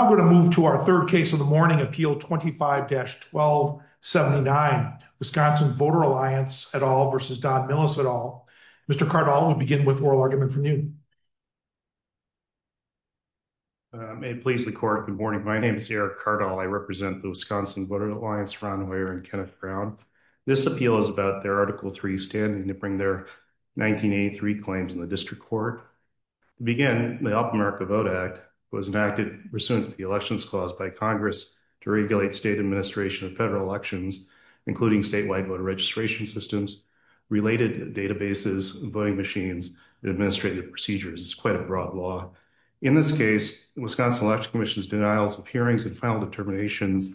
Now I'm going to move to our third case of the morning, Appeal 25-1279, Wisconsin Voter Alliance et al. v. Don Millis et al. Mr. Cardall, we'll begin with oral argument from you. May it please the court, good morning. My name is Eric Cardall. I represent the Wisconsin Voter Alliance, Ron Hoyer and Kenneth Brown. This appeal is about their Article 3 standing to bring their 1983 claims in the district court. To begin, the Up America Vote Act was enacted pursuant to the elections clause by Congress to regulate state administration of federal elections, including statewide voter registration systems, related databases, voting machines, and administrative procedures. It's quite a broad law. In this case, the Wisconsin Election Commission's denials of hearings and final determinations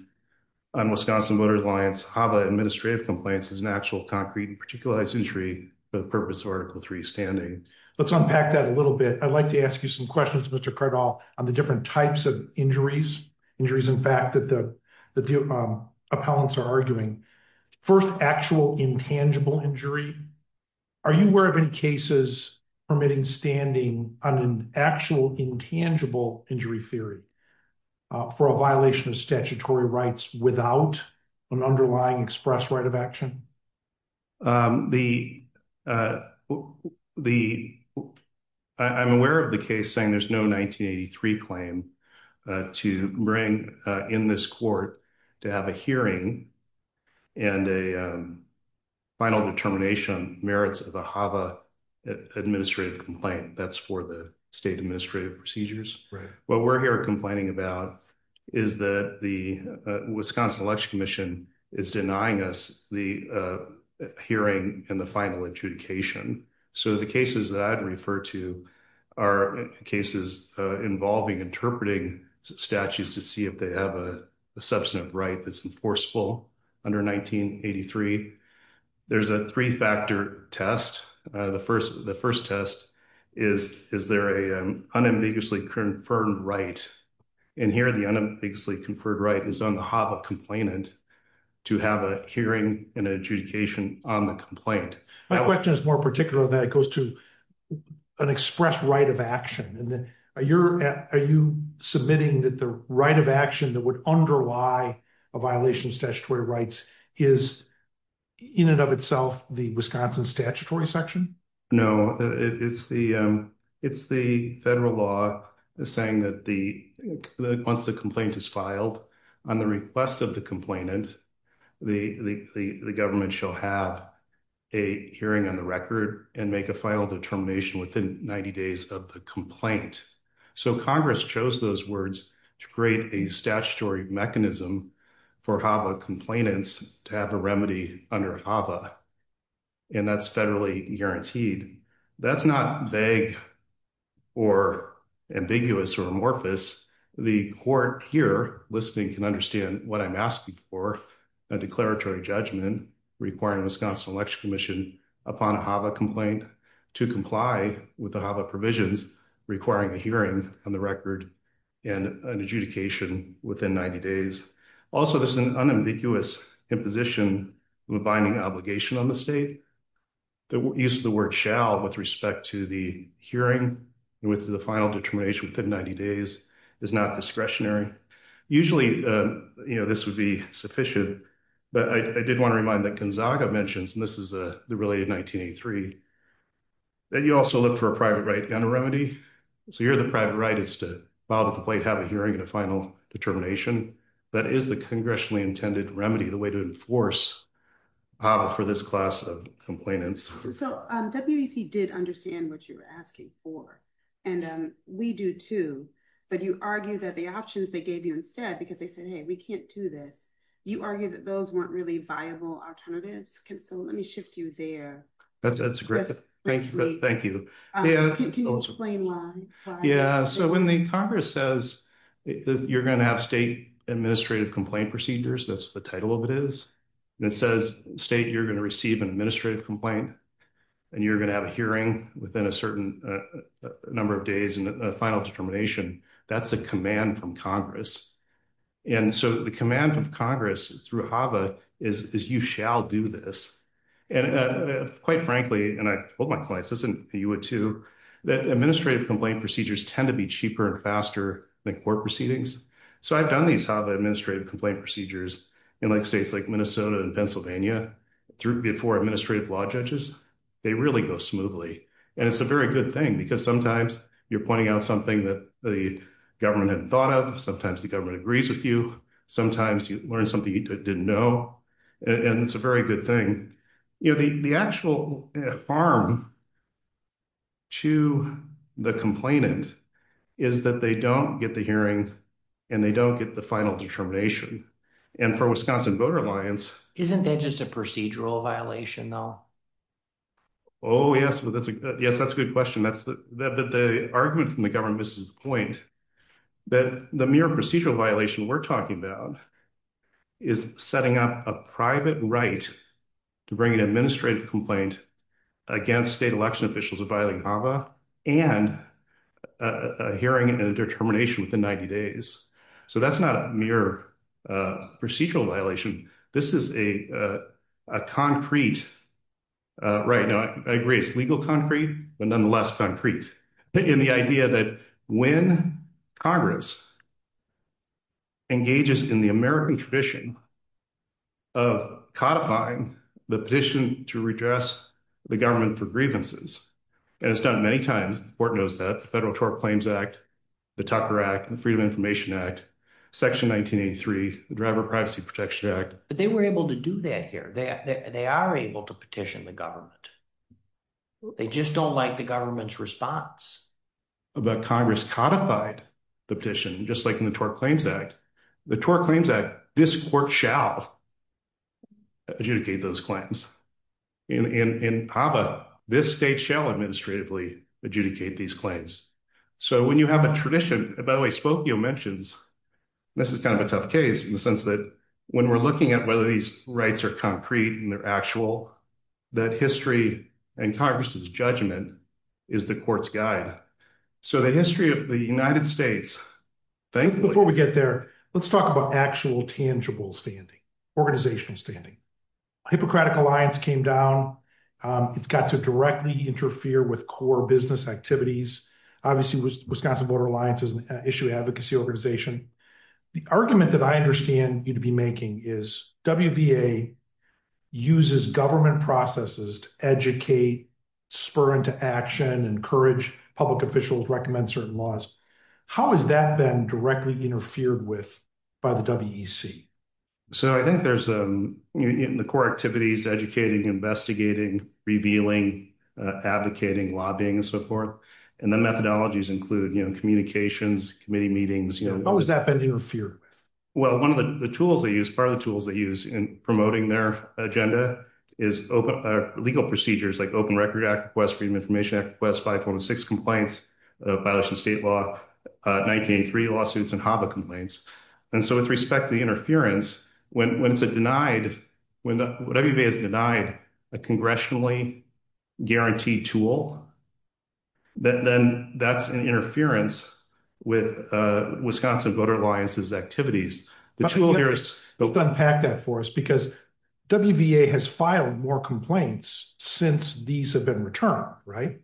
on Wisconsin Voter Alliance HAVA administrative complaints is an actual concrete and particularized injury for the purpose of Article 3 standing. Let's unpack that a little bit. I'd like to ask you some questions, Mr. Cardall, on the different types of injuries. Injuries, in fact, that the appellants are arguing. First, actual intangible injury. Are you aware of any cases permitting standing on an actual intangible injury theory for a violation of statutory rights without an underlying express right of action? I'm aware of the case saying there's no 1983 claim to bring in this court to have a hearing and a final determination on merits of a HAVA administrative complaint. That's for the state Wisconsin Election Commission is denying us the hearing and the final adjudication. The cases that I'd refer to are cases involving interpreting statutes to see if they have a substantive right that's enforceable under 1983. There's a three-factor test. The first test is, is there an unambiguously confirmed right? And here the unambiguously conferred right is on the HAVA complainant to have a hearing and adjudication on the complaint. My question is more particular that it goes to an express right of action. Are you submitting that the right of action that would underlie a violation of statutory rights is in and of itself the Wisconsin statutory section? No, it's the federal law saying that once the complaint is filed on the request of the complainant, the government shall have a hearing on the record and make a final determination within 90 days of the complaint. So Congress chose those words to create a statutory mechanism for HAVA complainants to have a remedy under HAVA and that's federally guaranteed. That's not vague or ambiguous or amorphous. The court here listening can understand what I'm asking for, a declaratory judgment requiring Wisconsin Election Commission upon a HAVA complaint to comply with the HAVA provisions requiring a hearing on the record and an adjudication within 90 days. Also, there's an unambiguous imposition of a binding obligation on the state. The use of the word shall with respect to the hearing and with the final determination within 90 days is not discretionary. Usually, you know, this would be sufficient, but I did want to remind that Gonzaga mentions, and this is the related 1983, that you also look for a private right on a remedy. So here the private right is to file a complaint, have a hearing, and a final determination. That is the congressionally intended remedy, the way to enforce HAVA for this class of complainants. So WEC did understand what you're asking for and we do too, but you argue that the options they gave you instead, because they said, hey, we can't do this. You argue that those weren't really viable alternatives. So let me shift you there. That's great. Thank you. Can you explain why? Yeah. So when the Congress says you're going to have state administrative complaint procedures, that's the title of it is, and it says state, you're going to receive an administrative complaint and you're going to have a hearing within a certain number of days and a final determination, that's a command from Congress. And so the command of Congress through HAVA is you shall do this. And quite frankly, and I told my clients this in PUA too, that administrative complaint procedures tend to be cheaper and faster than court proceedings. So I've done these HAVA administrative complaint procedures in states like Minnesota and Pennsylvania before administrative law judges. They really go smoothly. And it's a very good thing because sometimes you're pointing out something that the government hadn't thought of. Sometimes the government agrees with you. Sometimes you learn something you didn't know. And it's a very good thing. The actual harm to the complainant is that they don't get the hearing and they don't get the final determination. And for Wisconsin Voter Alliance- Isn't that just a procedural violation though? Oh yes. Yes, that's a good question. The argument from the government misses the point that the mere procedural violation we're talking about is setting up a private right to bring an administrative complaint against state election officials of violating HAVA and a hearing and a determination within 90 days. So that's not a mere procedural violation. This is a concrete, right now I agree it's legal concrete, but nonetheless concrete. In the idea that when Congress engages in the American tradition of codifying the petition to redress the government for grievances, and it's done many times, the court knows that, the Federal Tort Claims Act, the Tucker Act, the Freedom of Information Act, Section 1983, the Driver Privacy Protection Act. But they were able to do that here. They are able to petition the government. They just don't like the government's response. But Congress codified the petition, just like in the Tort Claims Act. The Tort Claims Act, this court shall adjudicate those claims. In HAVA, this state shall administratively adjudicate these claims. So when you have a tradition, by the way Spokio mentions, this is kind of a tough case in the sense that when we're looking at whether these rights are concrete and they're actual, that history and Congress's judgment is the court's guide. So the history of the United States. Before we get there, let's talk about actual tangible standing, organizational standing. Hippocratic Alliance came down. It's got to directly interfere with core business activities. Obviously, Wisconsin Voter Alliance is an issue advocacy organization. The argument that I understand you to be making is WVA uses government processes to educate, spur into action, encourage public officials, recommend certain laws. How has that been directly interfered with by the WEC? So I think there's the core activities, educating, investigating, revealing, advocating, lobbying, and so forth. And the methodologies include communications, committee meetings. How has that been interfered with? Well, one of the tools they use, part of the tools they use in promoting their agenda is legal procedures like Open Record Act request, Freedom of Information Act request, 5.6 complaints, violation of state law, 1983 lawsuits, and HAVA complaints. And so with respect to the interference, when it's a denied, when everybody has denied a congressionally guaranteed tool, then that's an interference with Wisconsin Voter Alliance's activities. The tool here is- Let's unpack that for us because WVA has filed more complaints since these have been returned, right?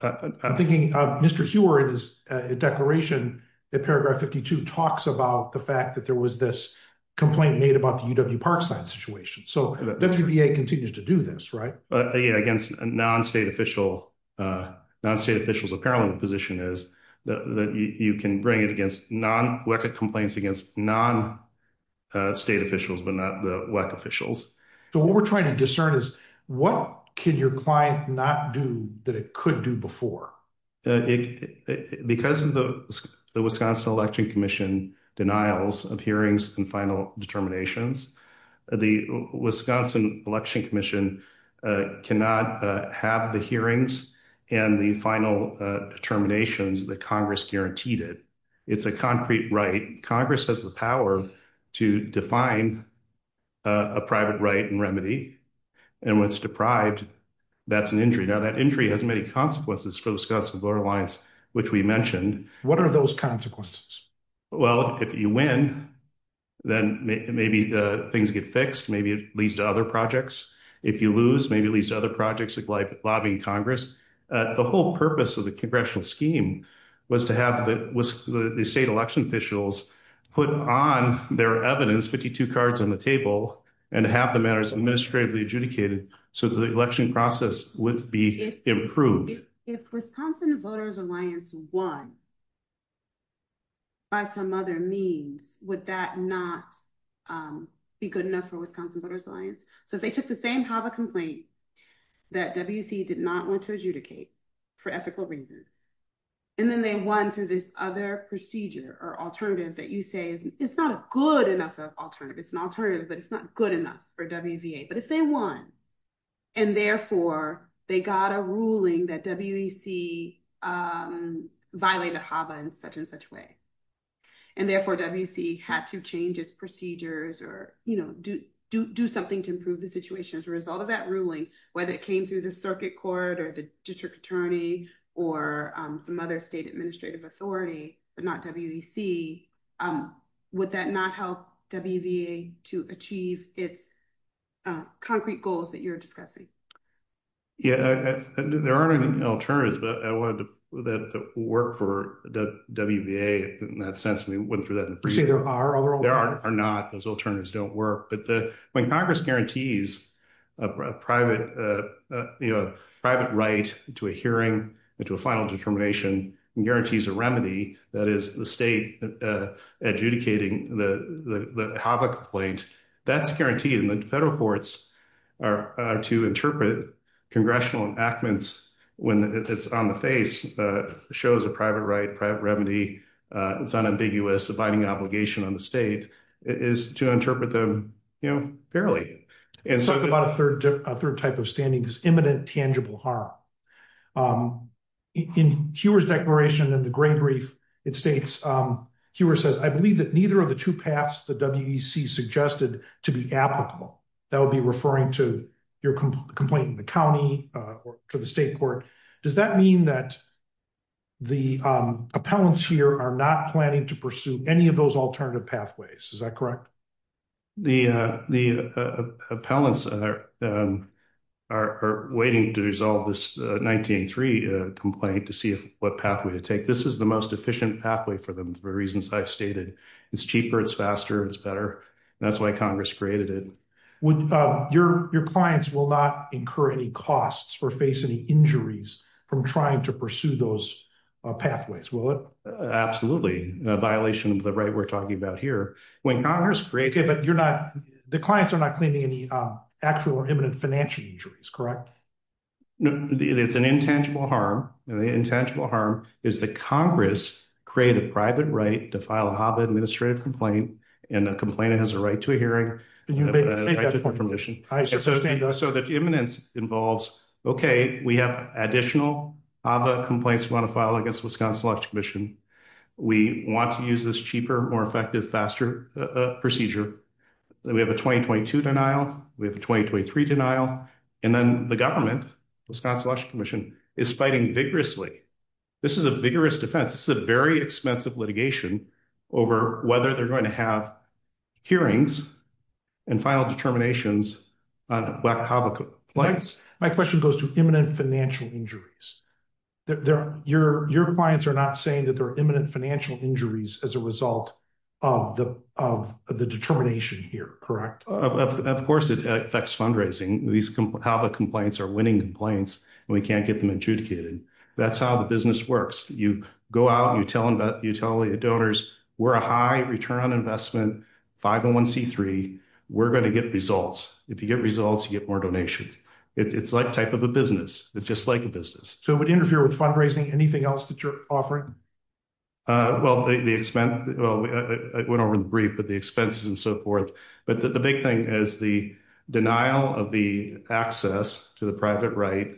I'm thinking of Mr. Huard's declaration in paragraph 52 talks about the fact that there was this complaint made about the UW Parkside situation. So WVA continues to do this, right? But again, against non-state officials, apparel in the position is that you can bring it against non-WECA complaints against non-state officials, but not the WECA officials. So what we're trying to discern is what can your client not do that it could do before? It- Because of the Wisconsin Election Commission denials of hearings and final determinations, the Wisconsin Election Commission cannot have the hearings and the final determinations that Congress guaranteed it. It's a concrete right. Congress has the power to define a private right and remedy. And when it's deprived, that's an injury. Now, injury has many consequences for the Wisconsin Voter Alliance, which we mentioned. What are those consequences? Well, if you win, then maybe things get fixed. Maybe it leads to other projects. If you lose, maybe it leads to other projects like lobbying Congress. The whole purpose of the congressional scheme was to have the state election officials put on their evidence, 52 cards on the table, and have the matters administratively adjudicated so the election process would be improved. If Wisconsin Voters Alliance won by some other means, would that not be good enough for Wisconsin Voters Alliance? So if they took the same HAVA complaint that WECA did not want to adjudicate for ethical reasons, and then they won through this other procedure or alternative that you say it's not a good enough alternative. It's an alternative, but it's not good enough for WVA. But if they won, and therefore they got a ruling that WEC violated HAVA in such and such way, and therefore WECA had to change its procedures or do something to improve the situation as a result of that ruling, whether it came through the circuit court or the district attorney or some other state administrative authority, but not WEC, would that not help WVA to achieve its concrete goals that you're discussing? Yeah, there aren't any alternatives, but I wanted that to work for WVA in that sense. We wouldn't throw that in. You're saying there are other alternatives? There are not. Those alternatives don't work. When Congress guarantees a private right to a hearing, to a final determination, and guarantees a remedy, that is the state adjudicating the HAVA complaint, that's guaranteed. And the federal courts are to interpret congressional enactments when it's on the face, shows a private right, private remedy, it's unambiguous, abiding obligation on the state, is to interpret them fairly. Let's talk about a third type of standing, this imminent tangible harm. In Huer's declaration in the gray brief, it states, Huer says, I believe that neither of the two paths the WEC suggested to be applicable, that would be referring to your complaint in the county or to the state court. Does that mean that the appellants here are not planning to pursue any of those alternative pathways? Is that correct? The appellants are waiting to resolve this 1983 complaint to see what pathway to take. This is the most efficient pathway for them, for reasons I've stated. It's cheaper, it's faster, it's better. That's why Congress created it. Your clients will not incur any costs or face any injuries from trying to pursue those pathways, will it? Absolutely, in a violation of the right we're talking about here. When Congress creates... Okay, but you're not, the clients are not claiming any actual or imminent financial injuries, correct? No, it's an intangible harm. The intangible harm is that Congress created a private right to file a HAVA administrative complaint, and the complainant has a right to a hearing, a right to information. So the imminence involves, okay, we have additional HAVA complaints we want to file against Wisconsin Election Commission. We want to use this cheaper, more effective, faster procedure. Then we have a 2022 denial, we have a 2023 denial, and then the government, Wisconsin Election Commission, is fighting vigorously. This is a vigorous defense. This is a very expensive litigation over whether they're going to have hearings and final determinations on black HAVA complaints. My question goes to imminent financial injuries. Your clients are not saying that there are imminent financial injuries as a result of the determination here, correct? Of course, it affects fundraising. These HAVA complaints are winning complaints, and we can't get them adjudicated. That's how the 501c3, we're going to get results. If you get results, you get more donations. It's like type of a business. It's just like a business. So it would interfere with fundraising, anything else that you're offering? Well, the expense, well, I went over the brief, but the expenses and so forth. But the big thing is the denial of the access to the private right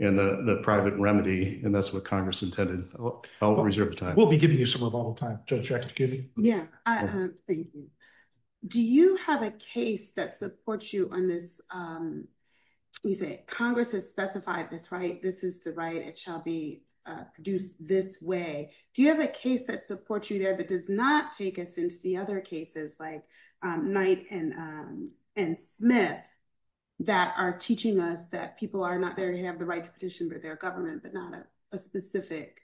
and the private remedy, and that's what Congress intended. I'll reserve the time. We'll be giving you some rebuttal time, yeah. Thank you. Do you have a case that supports you on this? You say Congress has specified this right. This is the right. It shall be produced this way. Do you have a case that supports you there that does not take us into the other cases like Knight and Smith that are teaching us that people are not there to have the right to petition for their government, but not a specific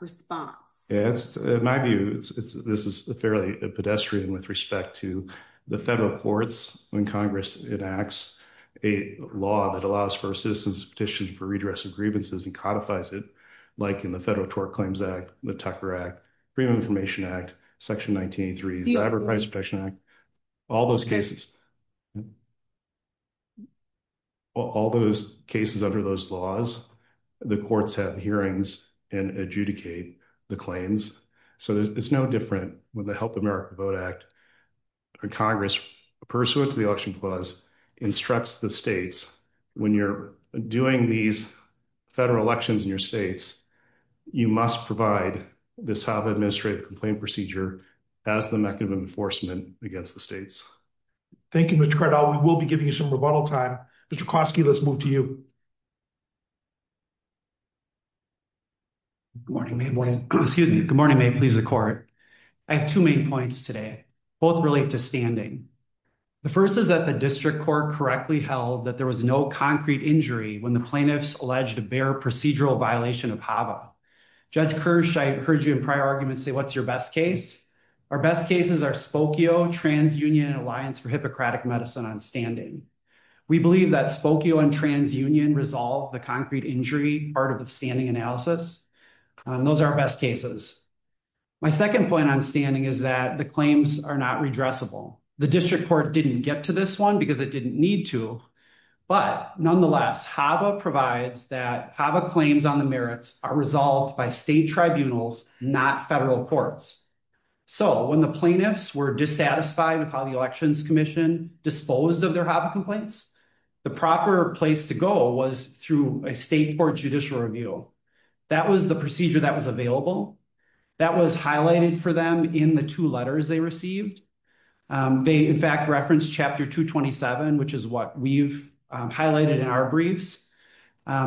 response? In my view, this is fairly pedestrian with respect to the federal courts when Congress enacts a law that allows for a citizen's petition for redress of grievances and codifies it, like in the Federal Tort Claims Act, the Tucker Act, Freedom of Information Act, Section 1983, Driver Price Protection Act, all those cases. All those cases under those laws, the courts have hearings and adjudicate the claims. So it's no different with the Help America Vote Act. Congress, pursuant to the Election Clause, instructs the states, when you're doing these federal elections in your states, you must provide this type of administrative complaint procedure as the mechanism of enforcement against the states. Thank you, Mr. Cardall. We will be giving you some rebuttal time. Mr. Koski, let's move to you. Good morning, may it please the court. I have two main points today. Both relate to standing. The first is that the district court correctly held that there was no concrete injury when the plaintiffs alleged a bare procedural violation of HAVA. Judge Kirsch, I heard you in prior arguments say, what's your best case? Our best cases are Spokio, TransUnion, and Alliance for Hippocratic Medicine on standing. We believe that Spokio and TransUnion resolve the concrete injury part of the standing analysis. Those are our best cases. My second point on standing is that the claims are not redressable. The district court didn't get to this one because it didn't need to. But nonetheless, HAVA provides that HAVA claims on the merits are resolved by state tribunals, not federal courts. So when the plaintiffs were dissatisfied with how the Elections Commission disposed of their HAVA complaints, the proper place to go was through a state court judicial review. That was the procedure that was available. That was highlighted for them in the two letters they received. They, in fact, referenced Chapter 227, which is what we've highlighted in our briefs.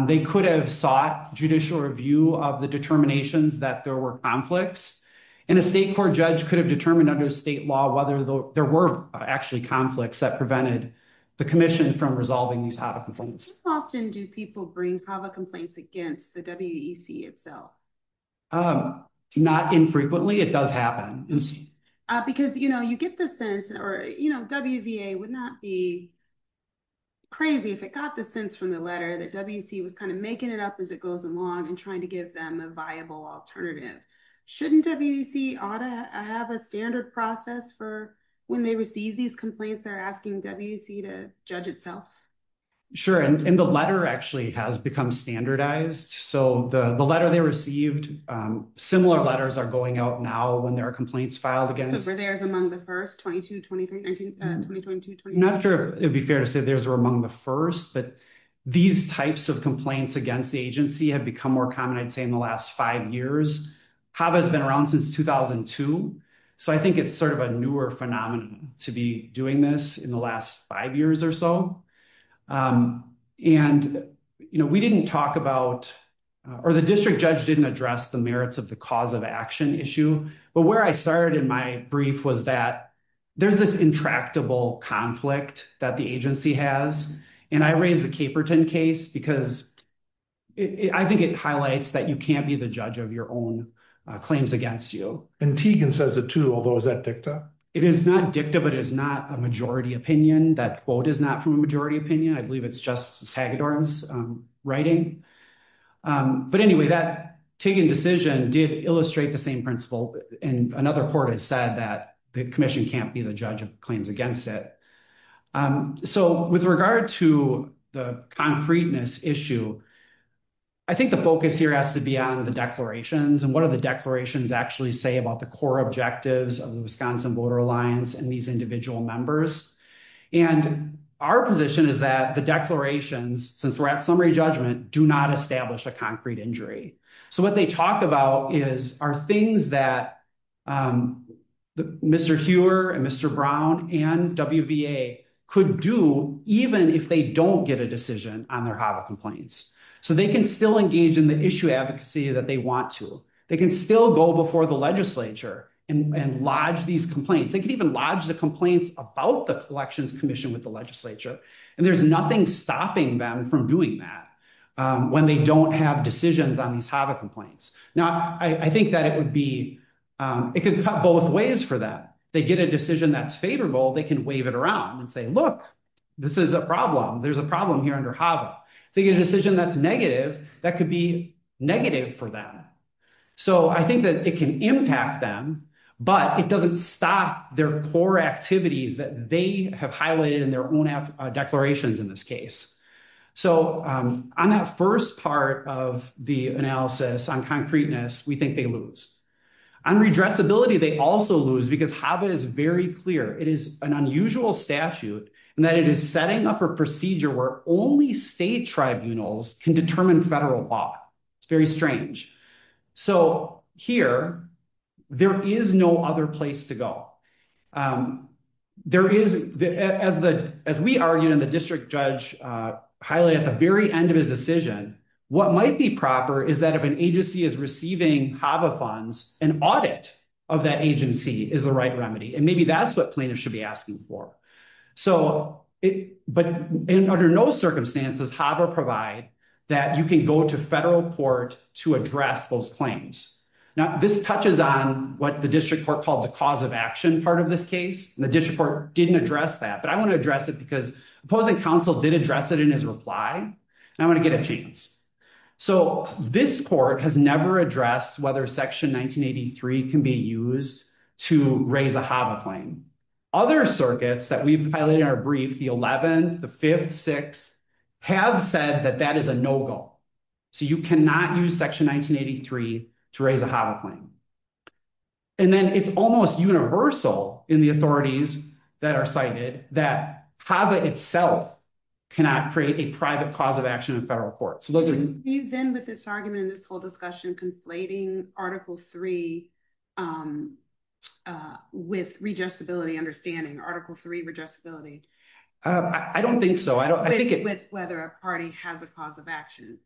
They could have sought judicial review of the determinations that there were conflicts, and a state court judge could have determined under state law whether there were actually conflicts that prevented the commission from resolving these HAVA complaints. How often do people bring HAVA complaints against the WEC itself? Not infrequently. It does happen. Because, you know, you get the sense or, you know, WVA would not be crazy if it got the sense from the letter that WEC was kind of making it up as it goes along and trying to give them a viable alternative. Shouldn't WEC ought to have a standard process for when they receive these complaints, they're asking WEC to judge itself? Sure. And the letter actually has become standardized. So the letter they received, similar letters are going out now when there are complaints filed against- Were theirs among the first, 22, 23, 19, 20, 22, 21? It would be fair to say theirs were among the first, but these types of complaints against the agency have become more common, I'd say, in the last five years. HAVA has been around since 2002. So I think it's sort of a newer phenomenon to be doing this in the last five years or so. And, you know, we didn't talk about, or the district judge didn't address the merits of the cause of action issue. But where I started in my brief was that there's this intractable conflict that the agency has. And I raised the Caperton case because I think it highlights that you can't be the judge of your own claims against you. And Tegan says it too, although is that dicta? It is not dicta, but it is not a majority opinion. That quote is not from a majority opinion. I believe it's Justice Hagedorn's writing. But anyway, that Tegan decision did illustrate the same principle. And another court has said that the commission can't be the judge of claims against it. So with regard to the concreteness issue, I think the focus here has to be on the declarations. And what are the declarations actually say about the core objectives of the Wisconsin Voter Alliance and these individual members? And our position is that the declarations, since we're at summary judgment, do not establish a concrete injury. So what they talk about are things that Mr. Huer and Mr. Brown and WVA could do even if they don't get a decision on their HAVA complaints. So they can still engage in the issue advocacy that they want to. They can still go before the legislature and lodge these complaints. They can even lodge the complaints about the Collections Commission with the legislature. And there's nothing stopping them from doing that when they don't have decisions on these HAVA complaints. Now, I think that it could cut both ways for them. They get a decision that's favorable, they can wave it around and say, look, this is a problem. There's a problem here under HAVA. They get a decision that's negative, that could be negative for them. So I think that it can impact them, but it doesn't stop their core activities that they have highlighted in their own declarations in this case. So on that first part of the analysis on concreteness, we think they lose. On redressability, they also lose because HAVA is very clear. It is an unusual statute and that it is setting up a procedure where only state tribunals can determine federal law. It's very highlighted at the very end of his decision. What might be proper is that if an agency is receiving HAVA funds, an audit of that agency is the right remedy. And maybe that's what plaintiffs should be asking for. But under no circumstances, HAVA provide that you can go to federal court to address those claims. Now, this touches on what the district court called the cause of action part of this case. The district court didn't address that, but I want to address it because opposing counsel did address it in his reply, and I want to get a chance. So this court has never addressed whether section 1983 can be used to raise a HAVA claim. Other circuits that we've highlighted in our brief, the 11th, the 5th, 6th, have said that that is a no-go. So you cannot use section 1983 to raise a HAVA claim. And then it's almost universal in the authorities that are cited that HAVA itself cannot create a private cause of action in federal court. So those are... You've been with this argument in this whole discussion conflating Article 3 with redressability understanding, Article 3 redressability. I don't think so. I don't think it... With whether a party has a cause of action.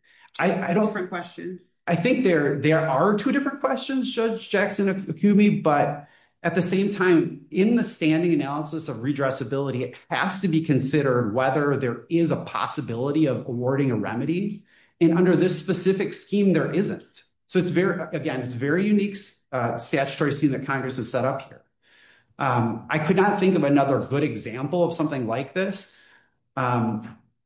Two different questions. I think there are two different questions, Judge Jackson-Akumi, but at the same time, in the standing analysis of redressability, it has to be considered whether there is a possibility of awarding a remedy. And under this specific scheme, there isn't. So it's very... Again, it's very unique statutory scene that Congress has set up here. I could not think of another good example of something like this.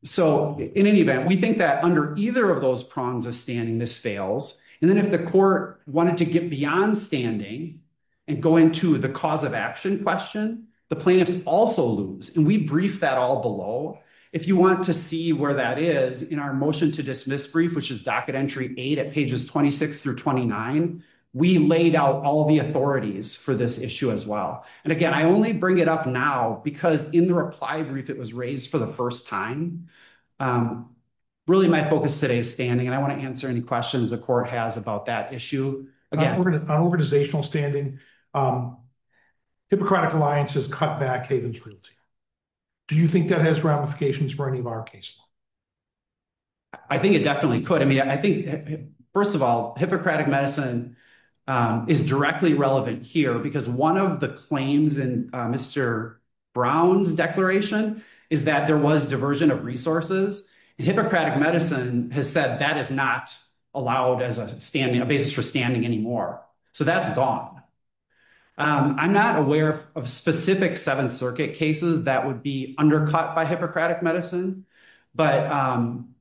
So in any event, we think that under either of those prongs of standing, this fails. And then if the court wanted to get beyond standing and go into the cause of action question, the plaintiffs also lose. And we brief that all below. If you want to see where that is in our motion to dismiss brief, which is docket entry eight at pages 26 through 29, we laid out all the authorities for this issue as well. And again, I only bring it up now because in the reply brief, it was raised for the first time. Really my focus today is standing. I want to answer any questions the court has about that issue. On organizational standing, Hippocratic Alliance has cut back Haven's Realty. Do you think that has ramifications for any of our cases? I think it definitely could. First of all, Hippocratic Medicine is directly relevant here because one of the claims in Mr. Brown's declaration is that there was diversion of resources. And Hippocratic Medicine has said that is not allowed as a basis for standing anymore. So that's gone. I'm not aware of specific Seventh Circuit cases that would be undercut by Hippocratic Medicine. But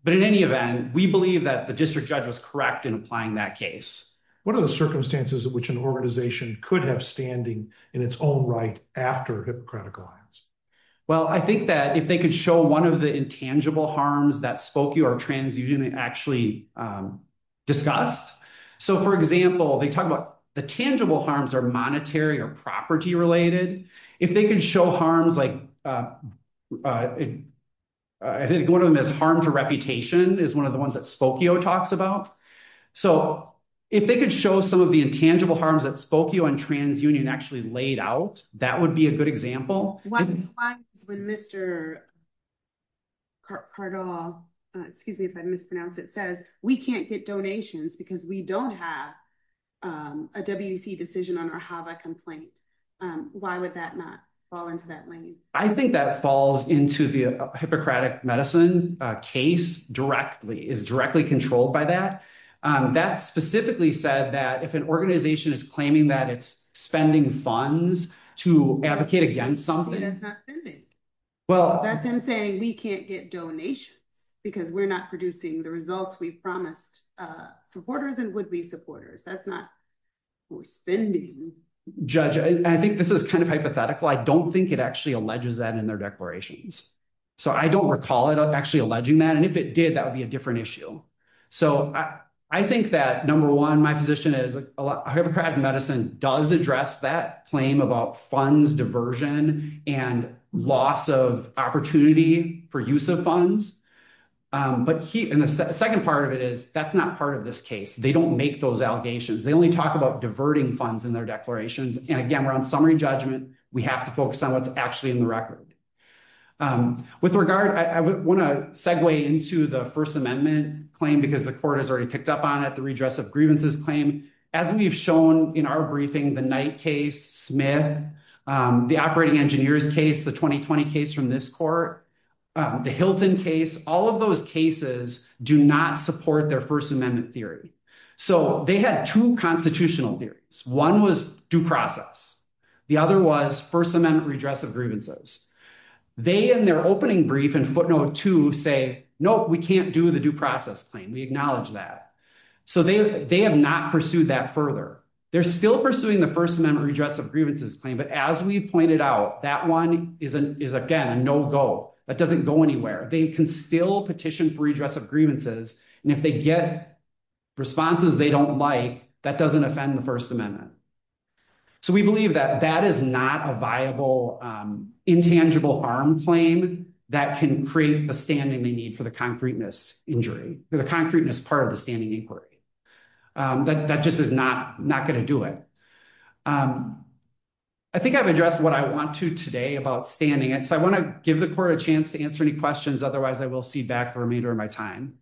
in any event, we believe that the district judge was correct in applying that case. What are the circumstances in which an organization could have standing in its own right after Hippocratic Alliance? Well, I think that if they could show one of the intangible harms that Spokio or TransUnion actually discussed. So for example, they talk about the tangible harms are monetary or property related. If they could show harms like, I think one of them is harm to reputation is one of the ones that Spokio talks about. So if they could show some of the intangible harms that Spokio and TransUnion actually laid out, that would be a good example. Why is when Mr. Cardall, excuse me if I mispronounce it, says we can't get donations because we don't have a WC decision on our HAVA complaint. Why would that not fall into that lane? I think that falls into the Hippocratic Medicine case directly, is directly controlled by that. That specifically said that if an organization is claiming that it's spending funds to advocate against something. That's him saying we can't get donations because we're not producing the results we promised supporters and would be supporters. That's not for spending. Judge, I think this is kind of hypothetical. I don't think it actually alleges that in their declarations. So I don't recall it actually alleging that. And if it did, that would be different issue. So I think that number one, my position is Hippocratic Medicine does address that claim about funds diversion and loss of opportunity for use of funds. But the second part of it is that's not part of this case. They don't make those allegations. They only talk about diverting funds in their declarations. And again, we're on summary judgment. We have to focus on what's actually in the record. With regard, I want to segue into the First Amendment claim because the court has already picked up on it, the redress of grievances claim. As we've shown in our briefing, the Knight case, Smith, the operating engineers case, the 2020 case from this court, the Hilton case, all of those cases do not support their First Amendment theory. So they had two constitutional theories. One was due process. The other was First Amendment redress of grievances. They in their opening brief in footnote two say, no, we can't do the due process claim. We acknowledge that. So they have not pursued that further. They're still pursuing the First Amendment redress of grievances claim. But as we pointed out, that one is again, a no-go. That doesn't go anywhere. They can still petition for redress of grievances. And if they get responses they don't like, that doesn't offend the First Amendment. So we believe that that is not a viable intangible harm claim that can create the standing they need for the concreteness injury or the concreteness part of the standing inquiry. That just is not going to do it. I think I've addressed what I want to today about standing it. So I want to give the court a chance to answer any questions. Otherwise, I will see back the remainder of my time.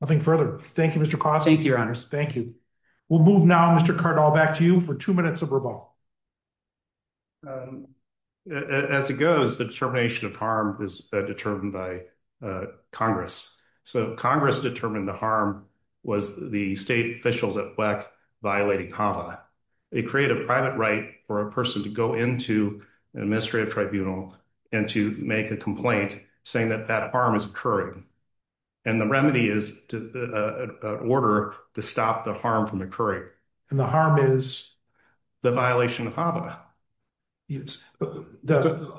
Nothing further. Thank you, Mr. Cross. Thank you, Your Honors. Thank you. We'll move now, Mr. Cardall, back to you for two minutes of rebuttal. As it goes, the determination of harm is determined by Congress. So Congress determined the harm was the state officials at WECC violating HAVA. They create a private right for a person to go into an administrative tribunal and to make a complaint saying that that harm is occurring. And the remedy is an order to stop the harm from occurring. And the harm is? The violation of HAVA.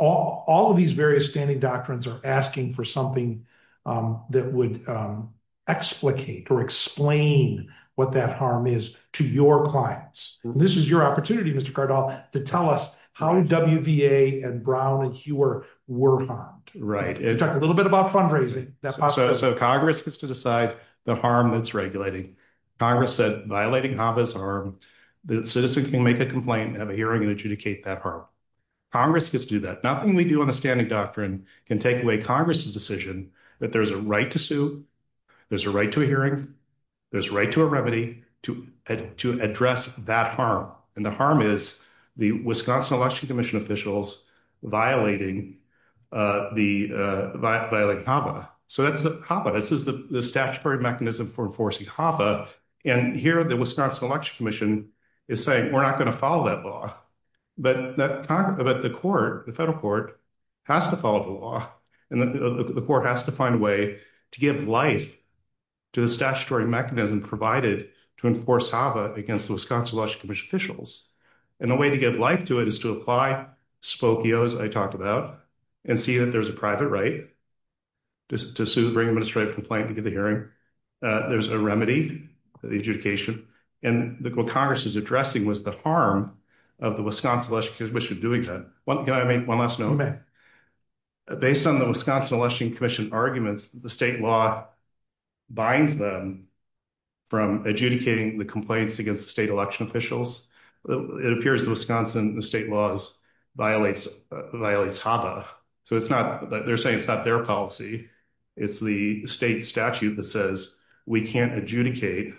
All of these various standing doctrines are asking for something that would explicate or explain what that harm is to your clients. This is your opportunity, Mr. Cardall, to tell us how WVA and Brown and Hewer were harmed. Right. Talk a little bit about fundraising. So Congress gets to decide the harm that's regulating. Congress said violating HAVA is a harm. The citizen can make a complaint and have a hearing and adjudicate that harm. Congress gets to do that. Nothing we do on the standing doctrine can take away Congress's decision that there's a right to sue. There's a right to a hearing. There's right to a remedy to address that harm. And the harm is the Wisconsin Election Commission officials violating HAVA. So that's HAVA. This is the statutory mechanism for enforcing HAVA. And here the Wisconsin Election Commission is saying we're not going to follow that law. But the court, the federal court, has to follow the law. And the court has to find a way to give life to the statutory mechanism provided to enforce HAVA against the Wisconsin Election Commission officials. And the way to give life to it is to apply spokios I talked about and see that there's a private right to sue, bring an administrative complaint, to give the hearing. There's a remedy for the adjudication. And what Congress is addressing was the harm of the Wisconsin Election Commission doing that. Can I make one last note? Based on the Wisconsin Election Commission arguments, the state law binds them from adjudicating the complaints against the state election officials. It appears the Wisconsin state laws violates HAVA. So it's not, they're saying it's not their policy. It's the state statute that says we can't adjudicate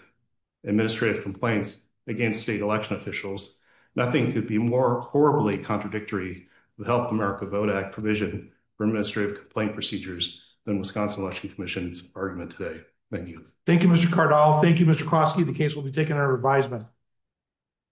administrative complaints against state election officials. Nothing could be more horribly contradictory to the Help America Vote Act provision for administrative complaint procedures than Wisconsin Election Commission's argument today. Thank you. Thank you, Mr. Cardall. Thank you, Mr. Kroski. The case will be taken under advisement.